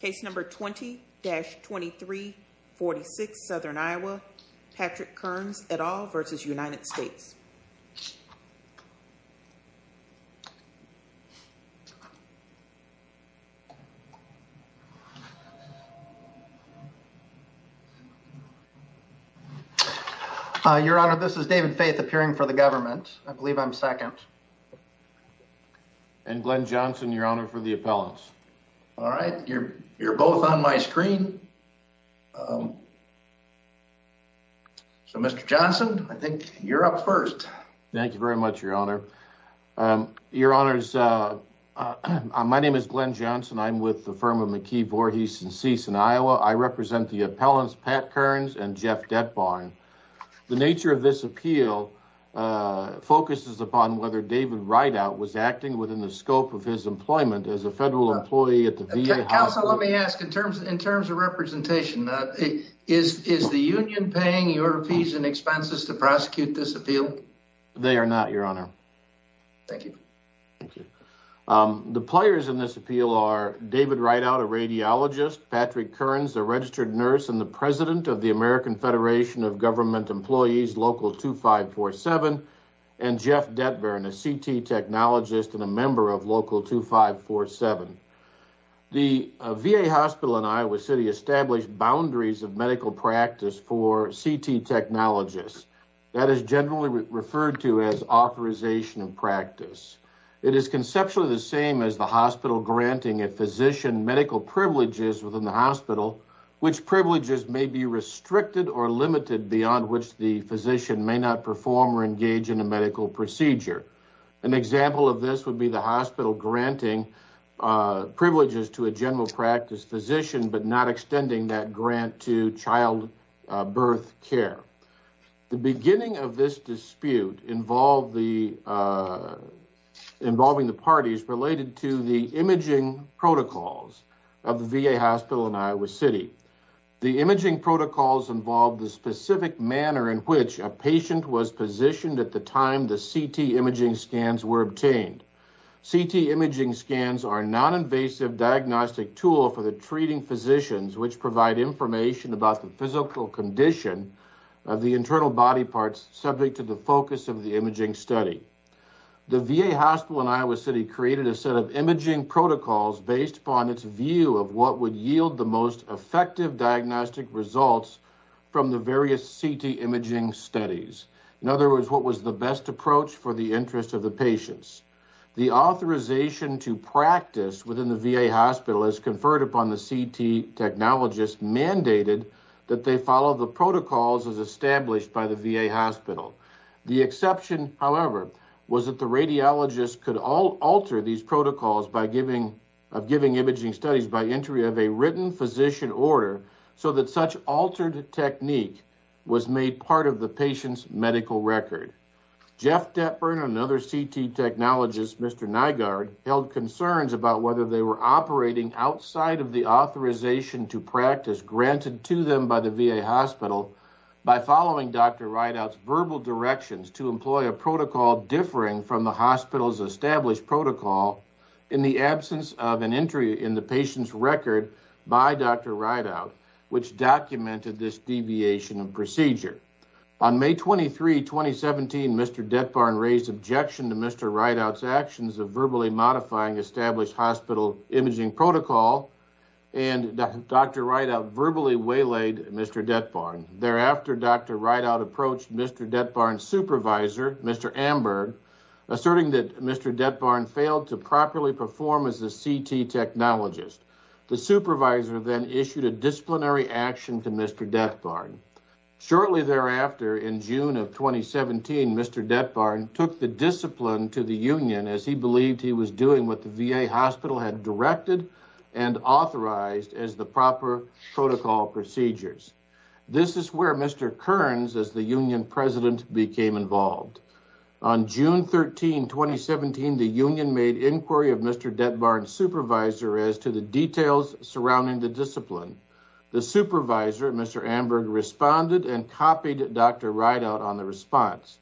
Case number 20-2346, Southern Iowa, Patrick Kearns, et al. v. United States. Your Honor, this is David Faith appearing for the government. I believe I'm second. And Glenn Johnson, Your Honor, for the appellants. All right. You're both on my screen. So, Mr. Johnson, I think you're up first. Thank you very much, Your Honor. Your Honors, my name is Glenn Johnson. I'm with the firm of McKee, Voorhees & Cease in Iowa. I represent the appellants Pat Kearns and Jeff Detborn. The nature of this appeal focuses upon whether David Rideout was acting within the scope of his employment as a federal employee at the VA hospital. Counsel, let me ask, in terms of representation, is the union paying your fees and expenses to prosecute this appeal? They are not, Your Honor. Thank you. Thank you. The players in this appeal are David Rideout, a radiologist, Patrick Kearns, a registered nurse, and the president of the American Federation of Government Employees, Local 2547, and Jeff Detborn, a CT technologist and a member of Local 2547. The VA hospital in Iowa City established boundaries of medical practice for CT technologists. That is generally referred to as authorization of practice. It is conceptually the same as the hospital granting a physician medical privileges within the hospital, which privileges may be restricted or limited beyond which the physician may not perform or engage in a medical procedure. An example of this would be the hospital granting privileges to a general practice physician but not extending that grant to childbirth care. The beginning of this dispute involving the parties related to the imaging protocols of the VA hospital in Iowa City. The imaging protocols involve the specific manner in which a patient was positioned at the time the CT imaging scans were obtained. CT imaging scans are a non-invasive diagnostic tool for the treating physicians, which provide information about the physical condition of the internal body parts subject to the focus of the imaging study. The VA hospital in Iowa City created a set of imaging protocols based upon its view of what would yield the most effective diagnostic results from the various CT imaging studies. In other words, what was the best approach for the interest of the patients. The authorization to practice within the VA hospital is conferred upon the CT technologists mandated that they follow the protocols as established by the VA hospital. The exception, however, was that the radiologists could all alter these protocols by giving imaging studies by entry of a written physician order so that such altered technique was made part of the patient's medical record. Jeff Deppern, another CT technologist, Mr. Nygaard, held concerns about whether they were operating outside of the authorization to practice granted to them by the VA hospital by following Dr. Rideout's verbal directions to employ a protocol differing from the hospital's established protocol in the absence of an entry in the patient's record by Dr. Rideout, which documented this deviation of procedure. On May 23, 2017, Mr. Deppern raised objection to Mr. Rideout's actions of verbally modifying established hospital imaging protocol and Dr. Rideout verbally waylaid Mr. Deppern. Thereafter, Dr. Rideout approached Mr. Deppern's supervisor, Mr. Amberg, asserting that Mr. Deppern failed to properly perform as a CT technologist. The supervisor then issued a disciplinary action to Mr. Deppern. Shortly thereafter, in June of 2017, Mr. Deppern took the discipline to the union as he believed he was doing what the VA hospital had directed and authorized as the proper protocol procedures. This is where Mr. Kearns, as the union president, became involved. On June 13, 2017, the union made inquiry of Mr. Deppern's supervisor as to the details surrounding the discipline. The supervisor, Mr. Amberg, responded and copied Dr. Rideout on the response.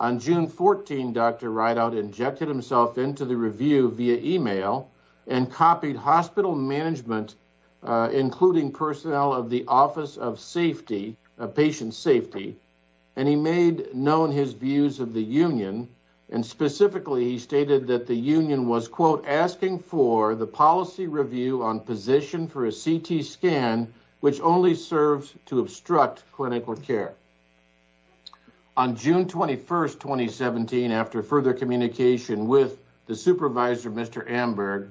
On June 14, Dr. Rideout injected himself into the review via email and copied hospital management, including personnel of the office of safety, of patient safety, and he made known his views of the union. And specifically, he stated that the union was, quote, asking for the policy review on position for a CT scan which only serves to obstruct clinical care. On June 21, 2017, after further communication with the supervisor, Mr. Amberg,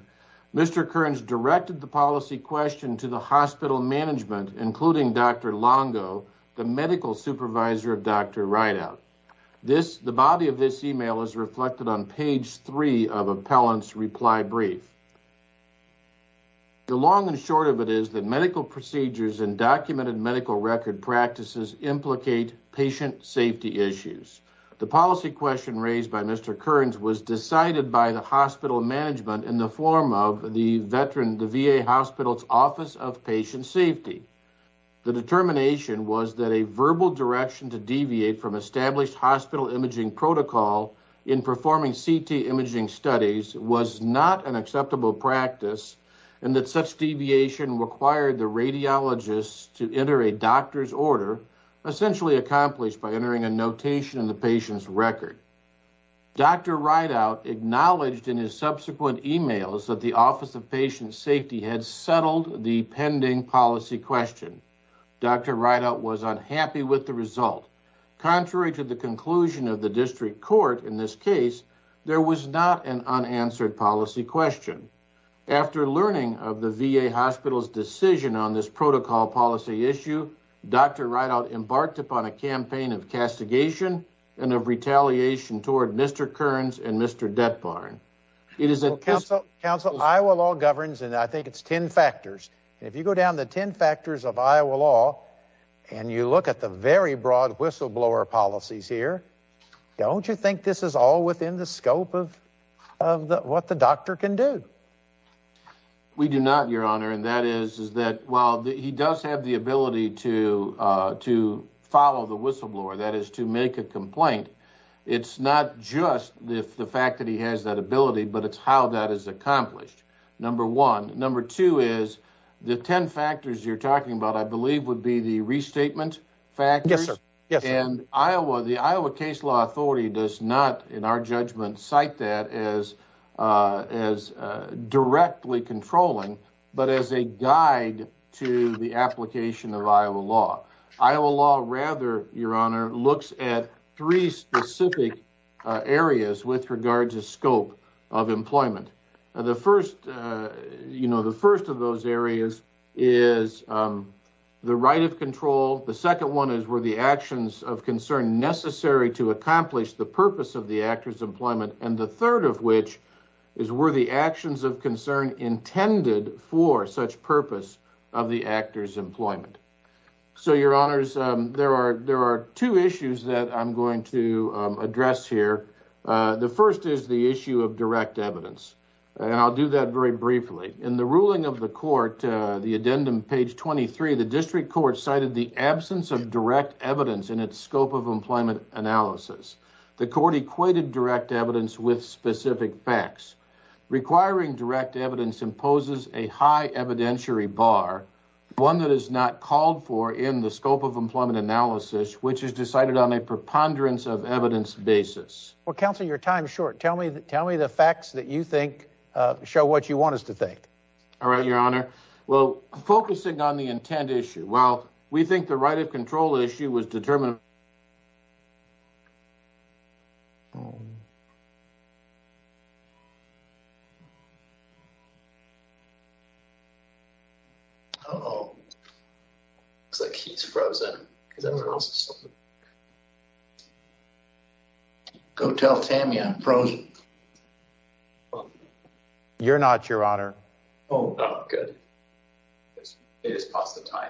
Mr. Kearns directed the policy question to the hospital management, including Dr. Longo, the medical supervisor of Dr. Rideout. The body of this email is reflected on page three of medical record practices implicate patient safety issues. The policy question raised by Mr. Kearns was decided by the hospital management in the form of the veteran, the VA hospital's office of patient safety. The determination was that a verbal direction to deviate from established hospital imaging protocol in performing CT imaging studies was not an acceptable practice and that such deviation required the radiologists to enter a doctor's order, essentially accomplished by entering a notation in the patient's record. Dr. Rideout acknowledged in his subsequent emails that the office of patient safety had settled the pending policy question. Dr. Rideout was unhappy with the result. Contrary to the conclusion of the district court in this case, there was not an unanswered policy question. After learning of the VA hospital's decision on this protocol policy issue, Dr. Rideout embarked upon a campaign of castigation and of retaliation toward Mr. Kearns and Mr. Detbarn. Council, Iowa law governs and I think it's 10 factors. If you go down the 10 factors of Iowa law and you look at the very broad whistleblower policies here, don't you think this is all within the scope of what the doctor can do? We do not, your honor, and that is that while he does have the ability to follow the whistleblower, that is to make a complaint, it's not just the fact that he has that ability but it's how that is accomplished, number one. Number two is the 10 factors you're talking about I believe would be the restatement factors and Iowa, the Iowa case law authority does not in our judgment cite that as directly controlling but as a guide to the application of Iowa law. Iowa law rather, your honor, looks at three specific areas with regard to scope of employment. The first, you know, the first of those areas is the right of control. The second one is were the actions of concern necessary to accomplish the purpose of the actor's employment and the third of which is were the actions of concern intended for such purpose of the actor's employment. So your honors, there are two issues that I'm going to address here. The first is the issue of direct evidence and I'll do that very briefly. In the ruling of the court, the addendum page 23, the district court cited the absence of direct evidence in its scope of employment analysis. The court equated direct evidence with specific facts. Requiring direct evidence imposes a high evidentiary bar, one that is not called for in the scope of employment analysis which is decided on a preponderance of evidence basis. Well, counsel, your time is short. Tell me the facts that you think show what you want us to think. All right, your honor. Well, focusing on the intent issue, well, we think the right of control issue was determined. Uh-oh. Looks like he's frozen. Go tell Tammy I'm frozen. You're not, your honor. Oh, good. It is past the time.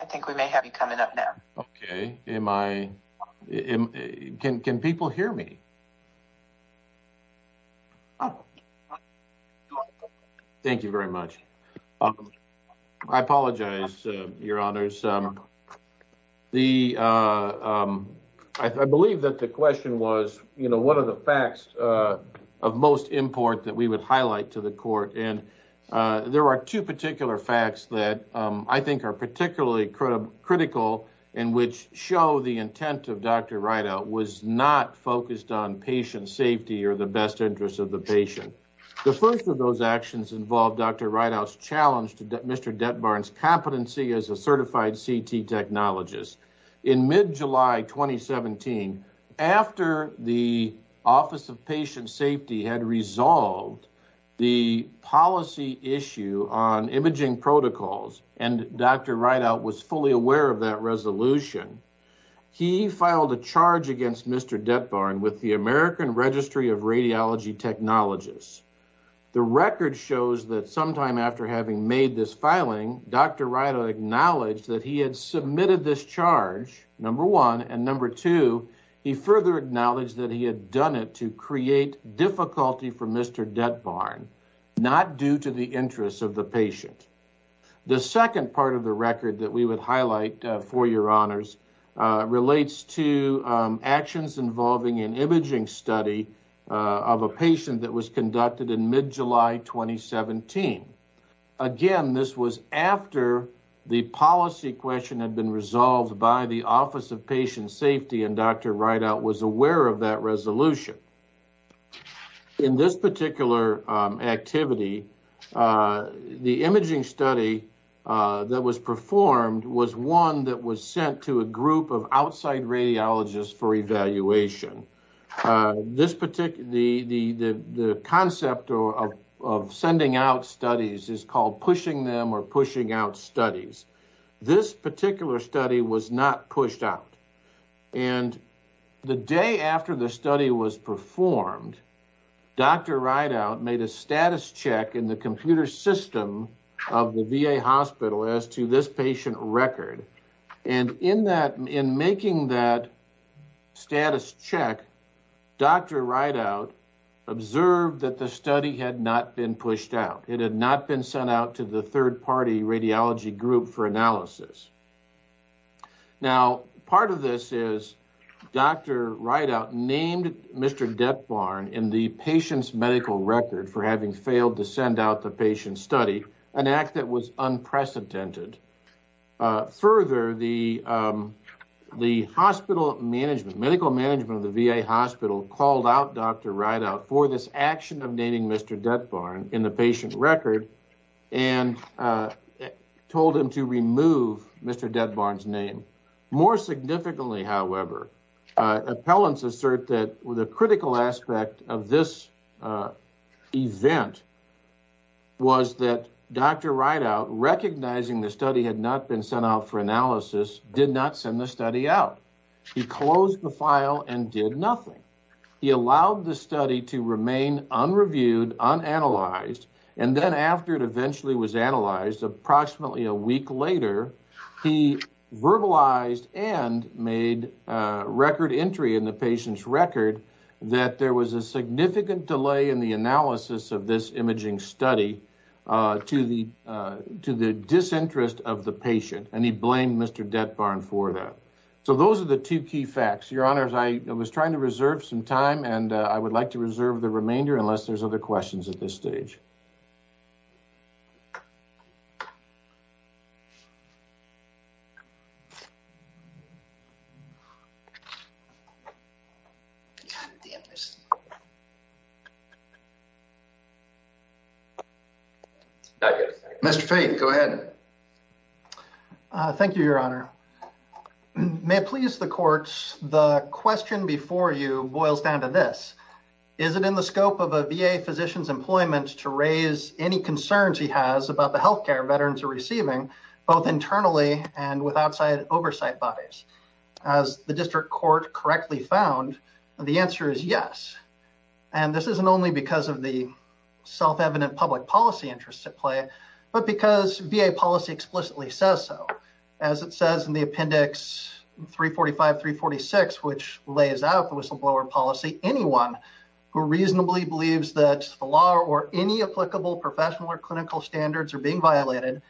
I think we may have you coming up now. Okay. Can people hear me? Thank you very much. I apologize, your honors. I believe that the question was, you know, what are the facts of most import that we would highlight to the court? And there are two particular facts that I think are particularly critical in which show the intent of Dr. Rideout was not focused on patient safety or the best interest of the patient. The first of those actions involved Dr. Rideout's challenge to Mr. Detbarn's competency as a certified CT technologist. In mid-July 2017, after the Office of Patient Safety had resolved the policy issue on imaging protocols and Dr. Rideout was fully aware of that resolution, he filed a charge against Mr. Detbarn with the American Registry of Radiology Technologists. The record shows that sometime after having made this filing, Dr. Rideout acknowledged that he had submitted this charge, number one. And number two, he further acknowledged that he had done it to create difficulty for Mr. Detbarn, not due to the interests of the patient. The second part of the record that we would highlight for your honors relates to actions involving an imaging study of a patient that was conducted in mid-July 2017. Again, this was after the policy question had been resolved by the Office of Patient Safety and Dr. Rideout was aware of that resolution. In this particular activity, the imaging study that was performed was one that was sent to a group of outside radiologists for evaluation. The concept of sending out studies is called pushing them or pushing out studies. This particular study was not pushed out. And the day after the study was performed, Dr. Rideout made a status check in the computer system of the VA hospital as to this patient record. And in making that status check, Dr. Rideout observed that the study had not been pushed out. It had not been sent out to the third-party radiology group for analysis. Now, part of this is Dr. Rideout named Mr. Detbarn in the patient's medical record for failing to send out the patient study, an act that was unprecedented. Further, the hospital management, medical management of the VA hospital called out Dr. Rideout for this action of naming Mr. Detbarn in the patient record and told him to remove Mr. Detbarn's name. More significantly, however, appellants assert that the critical aspect of this event was that Dr. Rideout, recognizing the study had not been sent out for analysis, did not send the study out. He closed the file and did nothing. He allowed the study to remain unreviewed, unanalyzed. And then after it eventually was analyzed, approximately a week later, he verbalized and made a record entry in the patient's record that there was a significant delay in the analysis of this imaging study to the disinterest of the patient, and he blamed Mr. Detbarn for that. So those are the two key facts. Your Honors, I was trying to reserve some time, and I would like to reserve the remainder unless there's other questions at this stage. Mr. Faith, go ahead. Thank you, Your Honor. May it please the courts, the question before you boils down to this. Is it in the scope of a VA physician's employment to raise any concerns he has about the health care veterans are receiving, both internally and with outside oversight bodies? As the district court correctly found, the answer is yes. And this isn't only because of the self-evident public policy interests at play, but because VA policy explicitly says so. As it says in the Appendix 345-346, which lays out the whistleblower policy, anyone who reasonably believes that the law or any applicable professional or clinical standards are being violated,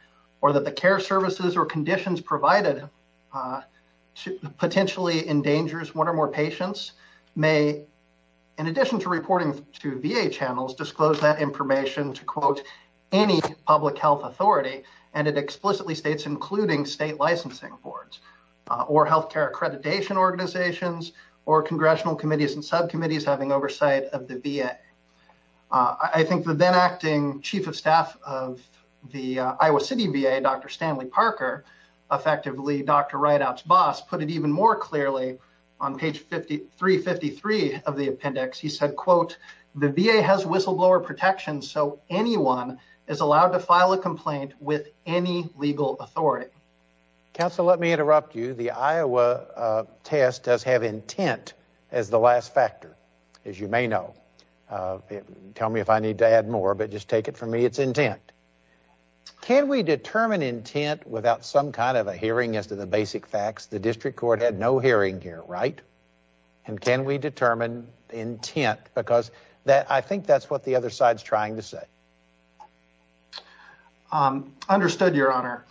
or that care services or conditions provided potentially endangers one or more patients, may, in addition to reporting to VA channels, disclose that information to, quote, any public health authority, and it explicitly states including state licensing boards, or health care accreditation organizations, or congressional committees and subcommittees having oversight of the VA. I think the then Stanley Parker, effectively Dr. Rideout's boss, put it even more clearly on page 353 of the Appendix. He said, quote, the VA has whistleblower protection, so anyone is allowed to file a complaint with any legal authority. Counsel, let me interrupt you. The Iowa test does have intent as the last factor, as you may know. Tell me if I need to add more, but just take it from me. It's can we determine intent without some kind of a hearing as to the basic facts? The district court had no hearing here, right? And can we determine intent? Because I think that's what the other side's trying to say. Understood, Your Honor.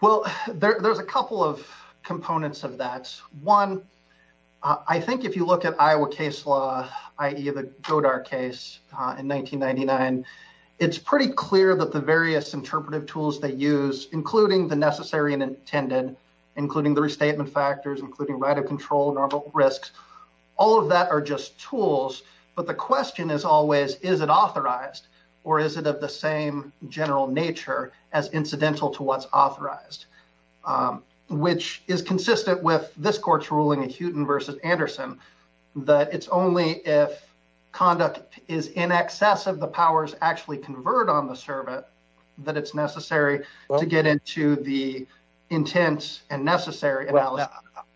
Well, there's a couple of components of that. One, I think if you look at Iowa case law, i.e. the Goddard case in 1999, it's pretty clear that the various interpretive tools they use, including the necessary and intended, including the restatement factors, including right of control, normal risks, all of that are just tools. But the question is always, is it authorized, or is it of the same general nature as incidental to what's authorized? Which is consistent with this court's ruling in Hewton v. Anderson, that it's only if conduct is in excess of the powers actually conferred on the servant that it's necessary to get into the intent and necessary analysis.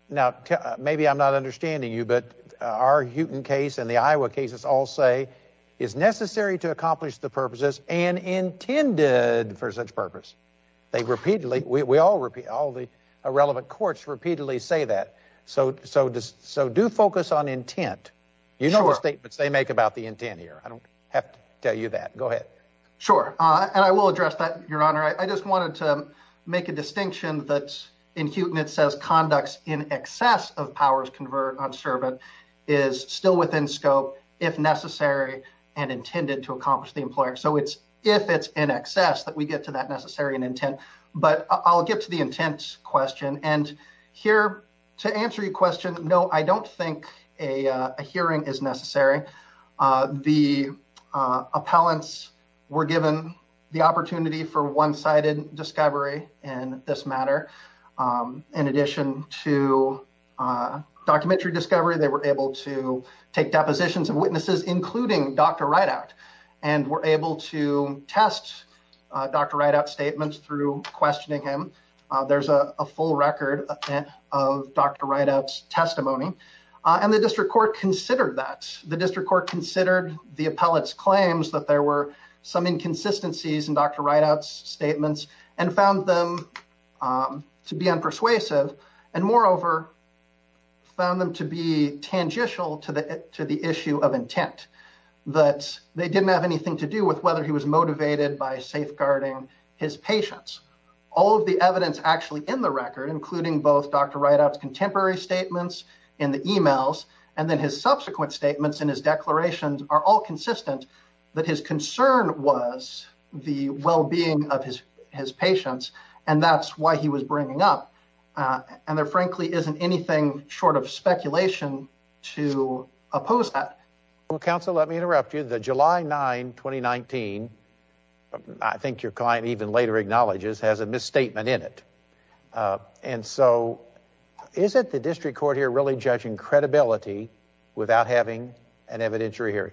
Now, maybe I'm not understanding you, but our Hewton case and the Iowa cases all say it's necessary to accomplish the purposes and intended for such purpose. They repeatedly, we all repeat, all the relevant courts repeatedly say that. So do focus on intent. You know the statements they make about the intent here. I don't have to tell you that. Go ahead. Sure. And I will address that, Your Honor. I just wanted to make a distinction that in Hewton it says conducts in excess of powers conferred on servant is still within scope if necessary and intended to accomplish the employer. So it's if it's in excess that we get to that necessary and intent. But I'll get to the intent question. And here to answer your No, I don't think a hearing is necessary. The appellants were given the opportunity for one-sided discovery in this matter. In addition to documentary discovery, they were able to take depositions of witnesses, including Dr. Rideout, and were able to test Dr. Rideout's record of Dr. Rideout's testimony. And the district court considered that. The district court considered the appellate's claims that there were some inconsistencies in Dr. Rideout's statements and found them to be unpersuasive. And moreover, found them to be tangential to the issue of intent. That they didn't have anything to do with whether he was motivated by safeguarding his patients. All of the evidence actually in the record, including both Dr. Rideout's contemporary statements in the emails, and then his subsequent statements in his declarations, are all consistent that his concern was the well-being of his his patients. And that's why he was bringing up. And there frankly isn't anything short of speculation to oppose that. Counsel, let me interrupt you. The July 9, 2019, I think your client even later acknowledges, has a misstatement in it. And so, is it the district court here really judging credibility without having an evidentiary hearing?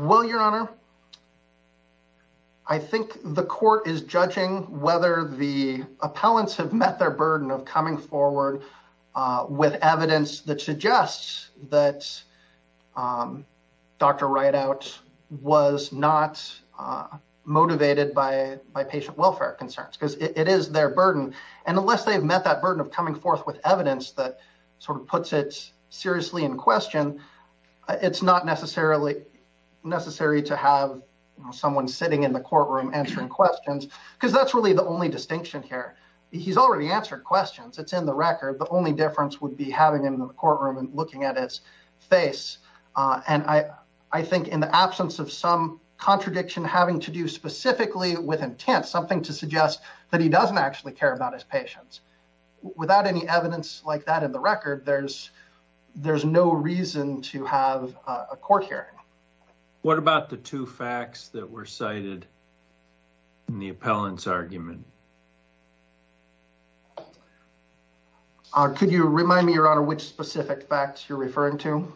Well, your honor, I think the court is judging whether the appellants have met their burden of coming forward with evidence that suggests that Dr. Rideout was not motivated by patient welfare concerns. Because it is their burden. And unless they've met that burden of coming forth with evidence that sort of puts it seriously in question, it's not necessarily necessary to have someone sitting in the courtroom answering questions. Because that's really the only distinction here. He's already answered questions. It's in the record. The only difference would be having him in the courtroom and looking at his face. And I think in the absence of some contradiction having to do specifically with intent, something to suggest that he doesn't actually care about his patients. Without any evidence like that in the record, there's no reason to have a court hearing. What about the facts that were cited in the appellant's argument? Could you remind me, your honor, which specific facts you're referring to?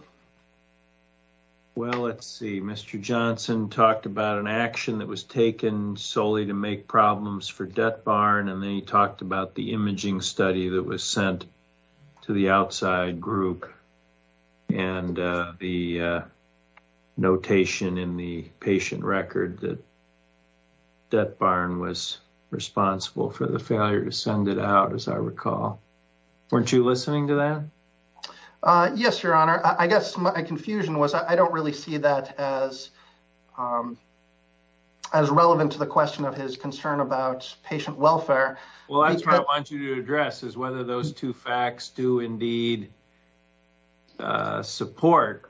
Well, let's see. Mr. Johnson talked about an action that was taken solely to make problems for DetBarn. And then he talked about the imaging study that was sent to the outside group. And the notation in the patient record that DetBarn was responsible for the failure to send it out, as I recall. Weren't you listening to that? Yes, your honor. I guess my confusion was I don't really see that as relevant to the question of his concern about patient welfare. Well, that's what I want you to address, is whether those two facts do indeed support.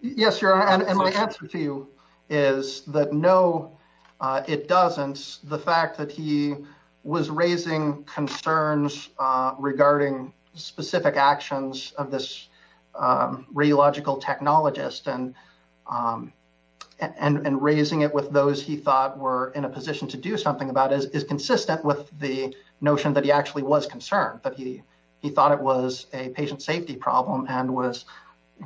Yes, your honor. And my answer to you is that no, it doesn't. The fact that he was raising concerns regarding specific actions of this radiological technologist and and raising it with those he thought were in a position to do something about it is consistent with the notion that he actually was concerned, that he thought it was a patient safety problem and was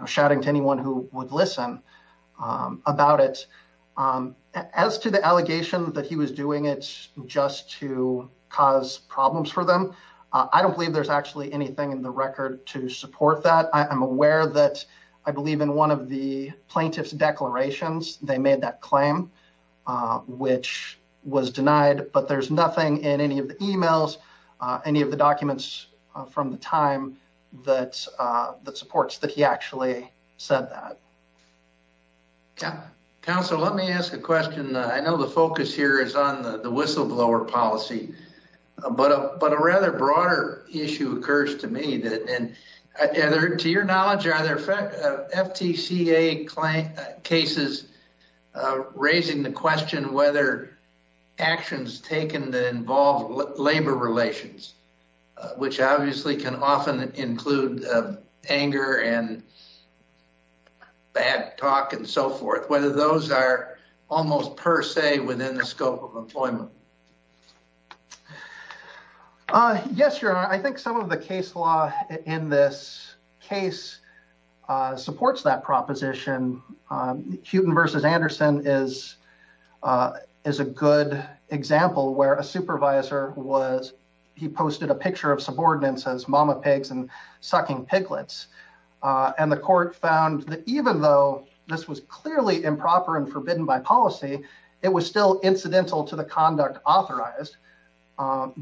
shouting to anyone who would listen about it. As to the allegation that he was doing it just to cause problems for them, I don't believe there's actually anything in the record to support that. I'm aware that I believe in one of the plaintiff's declarations they made that claim, which was denied, but there's nothing in any of the emails, any of the documents from the time that supports that he actually said that. Yeah. Counselor, let me ask a question. I know the focus here is on the whistleblower policy, but a rather broader issue occurs to me. To your knowledge, are there FTCA cases raising the question whether actions taken that involve labor relations, which obviously can often include anger and bad talk and so forth, whether those are almost per se within the scope of the case? Yes, Your Honor. I think some of the case law in this case supports that proposition. Hewton v. Anderson is a good example where a supervisor, he posted a picture of subordinates as mama pigs and sucking piglets. The court found that even though this was clearly improper and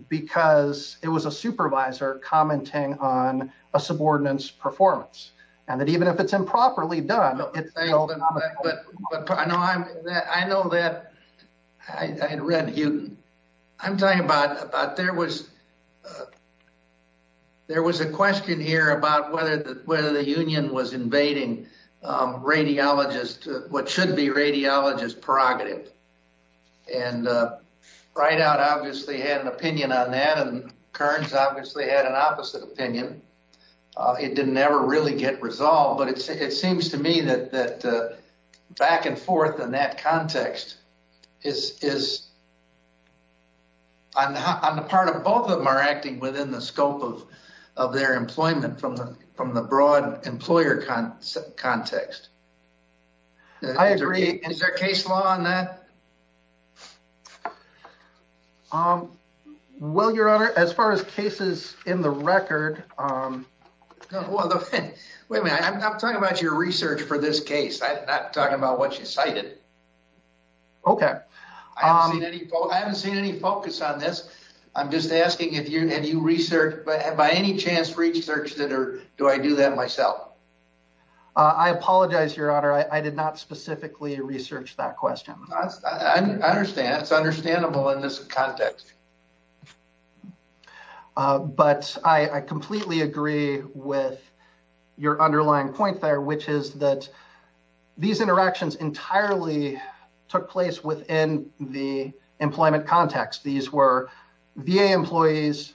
because it was a supervisor commenting on a subordinate's performance, and that even if it's improperly done... I know that I had read Hewton. I'm talking about there was a question here about whether the union was invading radiologists, what should be radiologists prerogative? Right out obviously had an opinion on that and Kearns obviously had an opposite opinion. It didn't ever really get resolved, but it seems to me that back and forth in that context is on the part of both of them are acting within the scope of their employment from the broad employer context. I agree. Is there case law on that? Well, Your Honor, as far as cases in the record... Wait a minute. I'm talking about your research for this case. I'm not talking about what you cited. Okay. I haven't seen any focus on this. I'm just asking if you research by any chance research that or do I do that myself? I apologize, Your Honor. I did not specifically research that question. I understand. It's understandable in this context. But I completely agree with your underlying point there, which is that these interactions entirely took place within the employment context. These were VA employees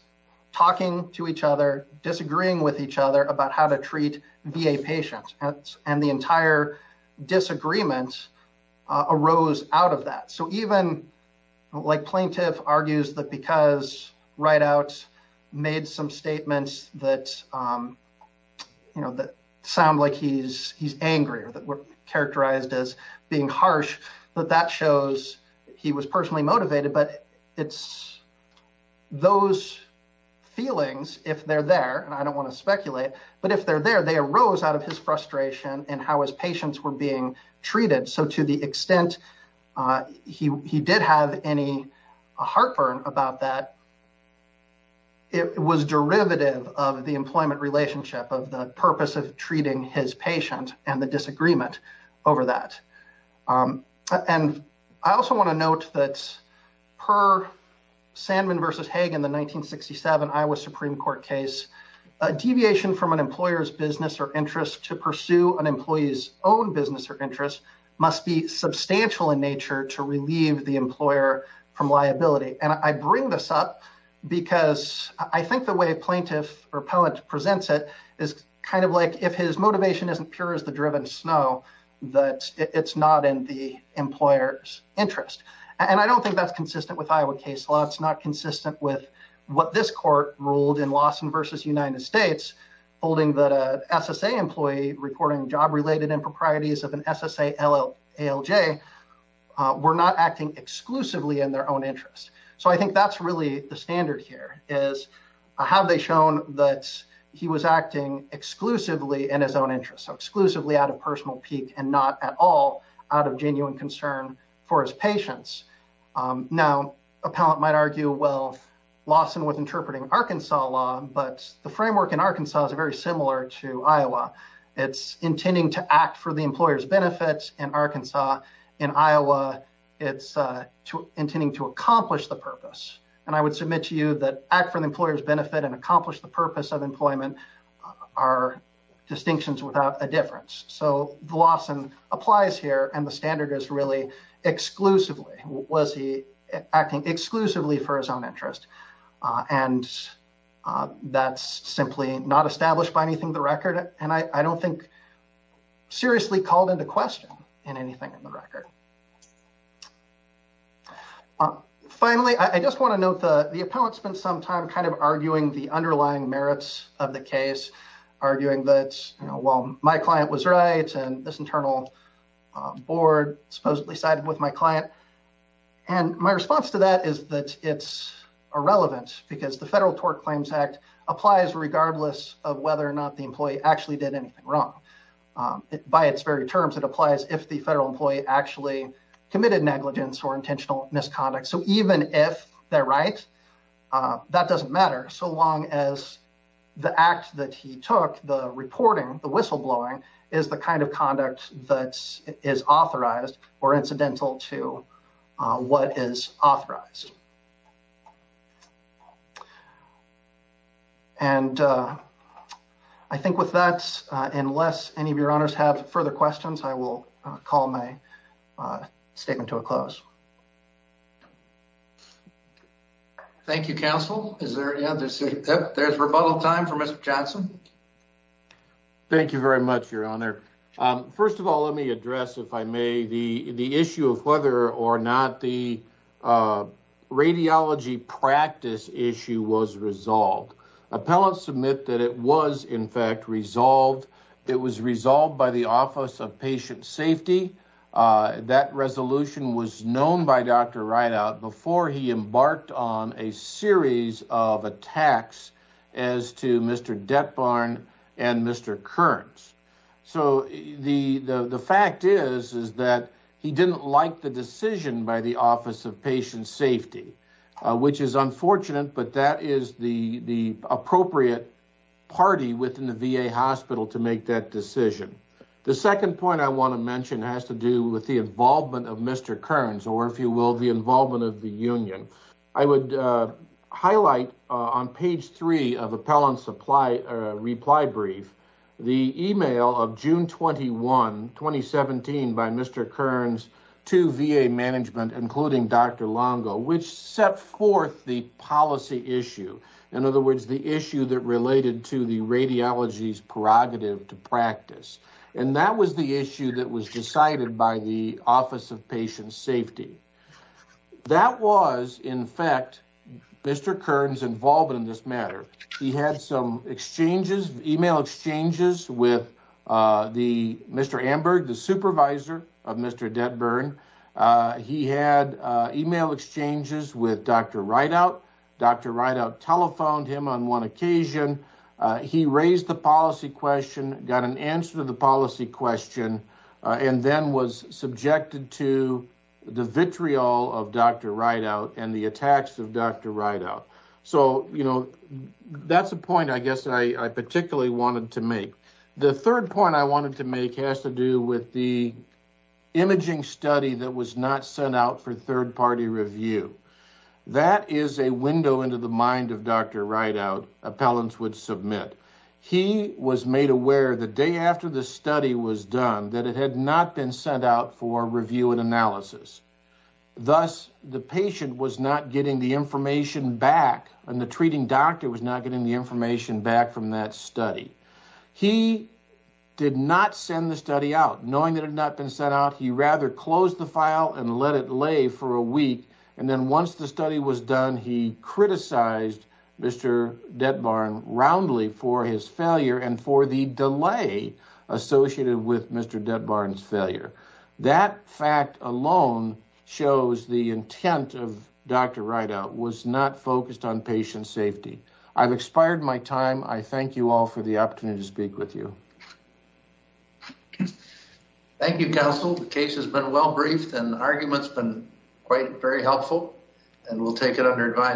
talking to each other, disagreeing with each other about how to treat VA patients and the entire disagreements arose out of that. So even like plaintiff argues that Rideout made some statements that sound like he's angry or that were characterized as being harsh, but that shows he was personally motivated. But it's those feelings, if they're there, and I don't want to speculate, but if they're there, they arose out of his frustration and how patients were being treated. So to the extent he did have any heartburn about that, it was derivative of the employment relationship of the purpose of treating his patient and the disagreement over that. And I also want to note that per Sandman v. Hague in the 1967 Iowa Supreme Court case, a deviation from an employer's business or interest to pursue an employee's own business or interest must be substantial in nature to relieve the employer from liability. And I bring this up because I think the way plaintiff or poet presents it is kind of like if his motivation isn't pure as the driven snow, that it's not in the employer's interest. And I don't think that's consistent with Iowa case law. It's not consistent with what this court ruled in Lawson v. United States, holding that a SSA employee reporting job-related improprieties of an SSA ALJ were not acting exclusively in their own interest. So I think that's really the standard here, is have they shown that he was acting exclusively in his own interest, so exclusively out of personal pique and not at all out of genuine concern for his patients. Now, a palant might argue, well, Lawson was interpreting Arkansas law, but the framework in Arkansas is very similar to Iowa. It's intending to act for the employer's benefits in Arkansas. In Iowa, it's intending to accomplish the purpose. And I would submit to you that act for the employer's benefit and accomplish the purpose of employment are distinctions without a difference. So Lawson applies here, and the standard is really exclusively. Was he acting exclusively for his own interest? And that's simply not established by anything in the record, and I don't think seriously called into question in anything in the record. Finally, I just want to note the appellant spent some time kind of arguing the underlying board supposedly sided with my client. And my response to that is that it's irrelevant because the Federal Tort Claims Act applies regardless of whether or not the employee actually did anything wrong. By its very terms, it applies if the federal employee actually committed negligence or intentional misconduct. So even if they're right, that doesn't matter so long as the act that he took, the reporting, the whistleblowing is the kind of conduct that is authorized or incidental to what is authorized. And I think with that, unless any of your honors have further questions, I will call my statement to a close. Thank you, Counsel. Is there any other? There's rebuttal time for Mr. Johnson. Thank you very much, Your Honor. First of all, let me address, if I may, the issue of whether or not the radiology practice issue was resolved. Appellants submit that it was, in fact, resolved. It was resolved by the Office of Patient Safety. That resolution was known by Dr. Rideout before he embarked on a series of attacks as to Mr. Detbarn and Mr. Kearns. So the fact is that he didn't like the decision by the Office of Patient Safety, which is unfortunate, but that is the appropriate party within the VA hospital to make that decision. The second point I want to I would highlight on page three of Appellant's reply brief, the email of June 21, 2017 by Mr. Kearns to VA management, including Dr. Longo, which set forth the policy issue. In other words, the issue that related to the radiology's prerogative to practice. And that was the issue that was decided by the Office of Patient Safety. That was, in fact, Mr. Kearns' involvement in this matter. He had some exchanges, email exchanges, with Mr. Amberg, the supervisor of Mr. Detbarn. He had email exchanges with Dr. Rideout. Dr. Rideout telephoned him on one occasion. He raised the policy question, got an answer to the policy question, and then was subjected to the vitriol of Dr. Rideout and the attacks of Dr. Rideout. So, you know, that's a point I guess I particularly wanted to make. The third point I wanted to make has to do with the imaging study that was not sent out for third-party review. That is a window into the mind of Dr. Rideout, appellants would submit. He was made aware the day after the study was done that it had not been sent out for review and analysis. Thus, the patient was not getting the information back and the treating doctor was not getting the information back from that study. He did not send the study out. Knowing that it had not been sent out, he rather closed the file and let it lay for a week. And then once the study was done, he criticized Mr. Detbarn roundly for his failure and for the delay associated with Mr. Detbarn's failure. That fact alone shows the intent of Dr. Rideout was not focused on patient safety. I've expired my time. I thank you all for the opportunity to speak with you. Thank you, counsel. The case has been well briefed and the argument has been quite very helpful and we'll take it under advice.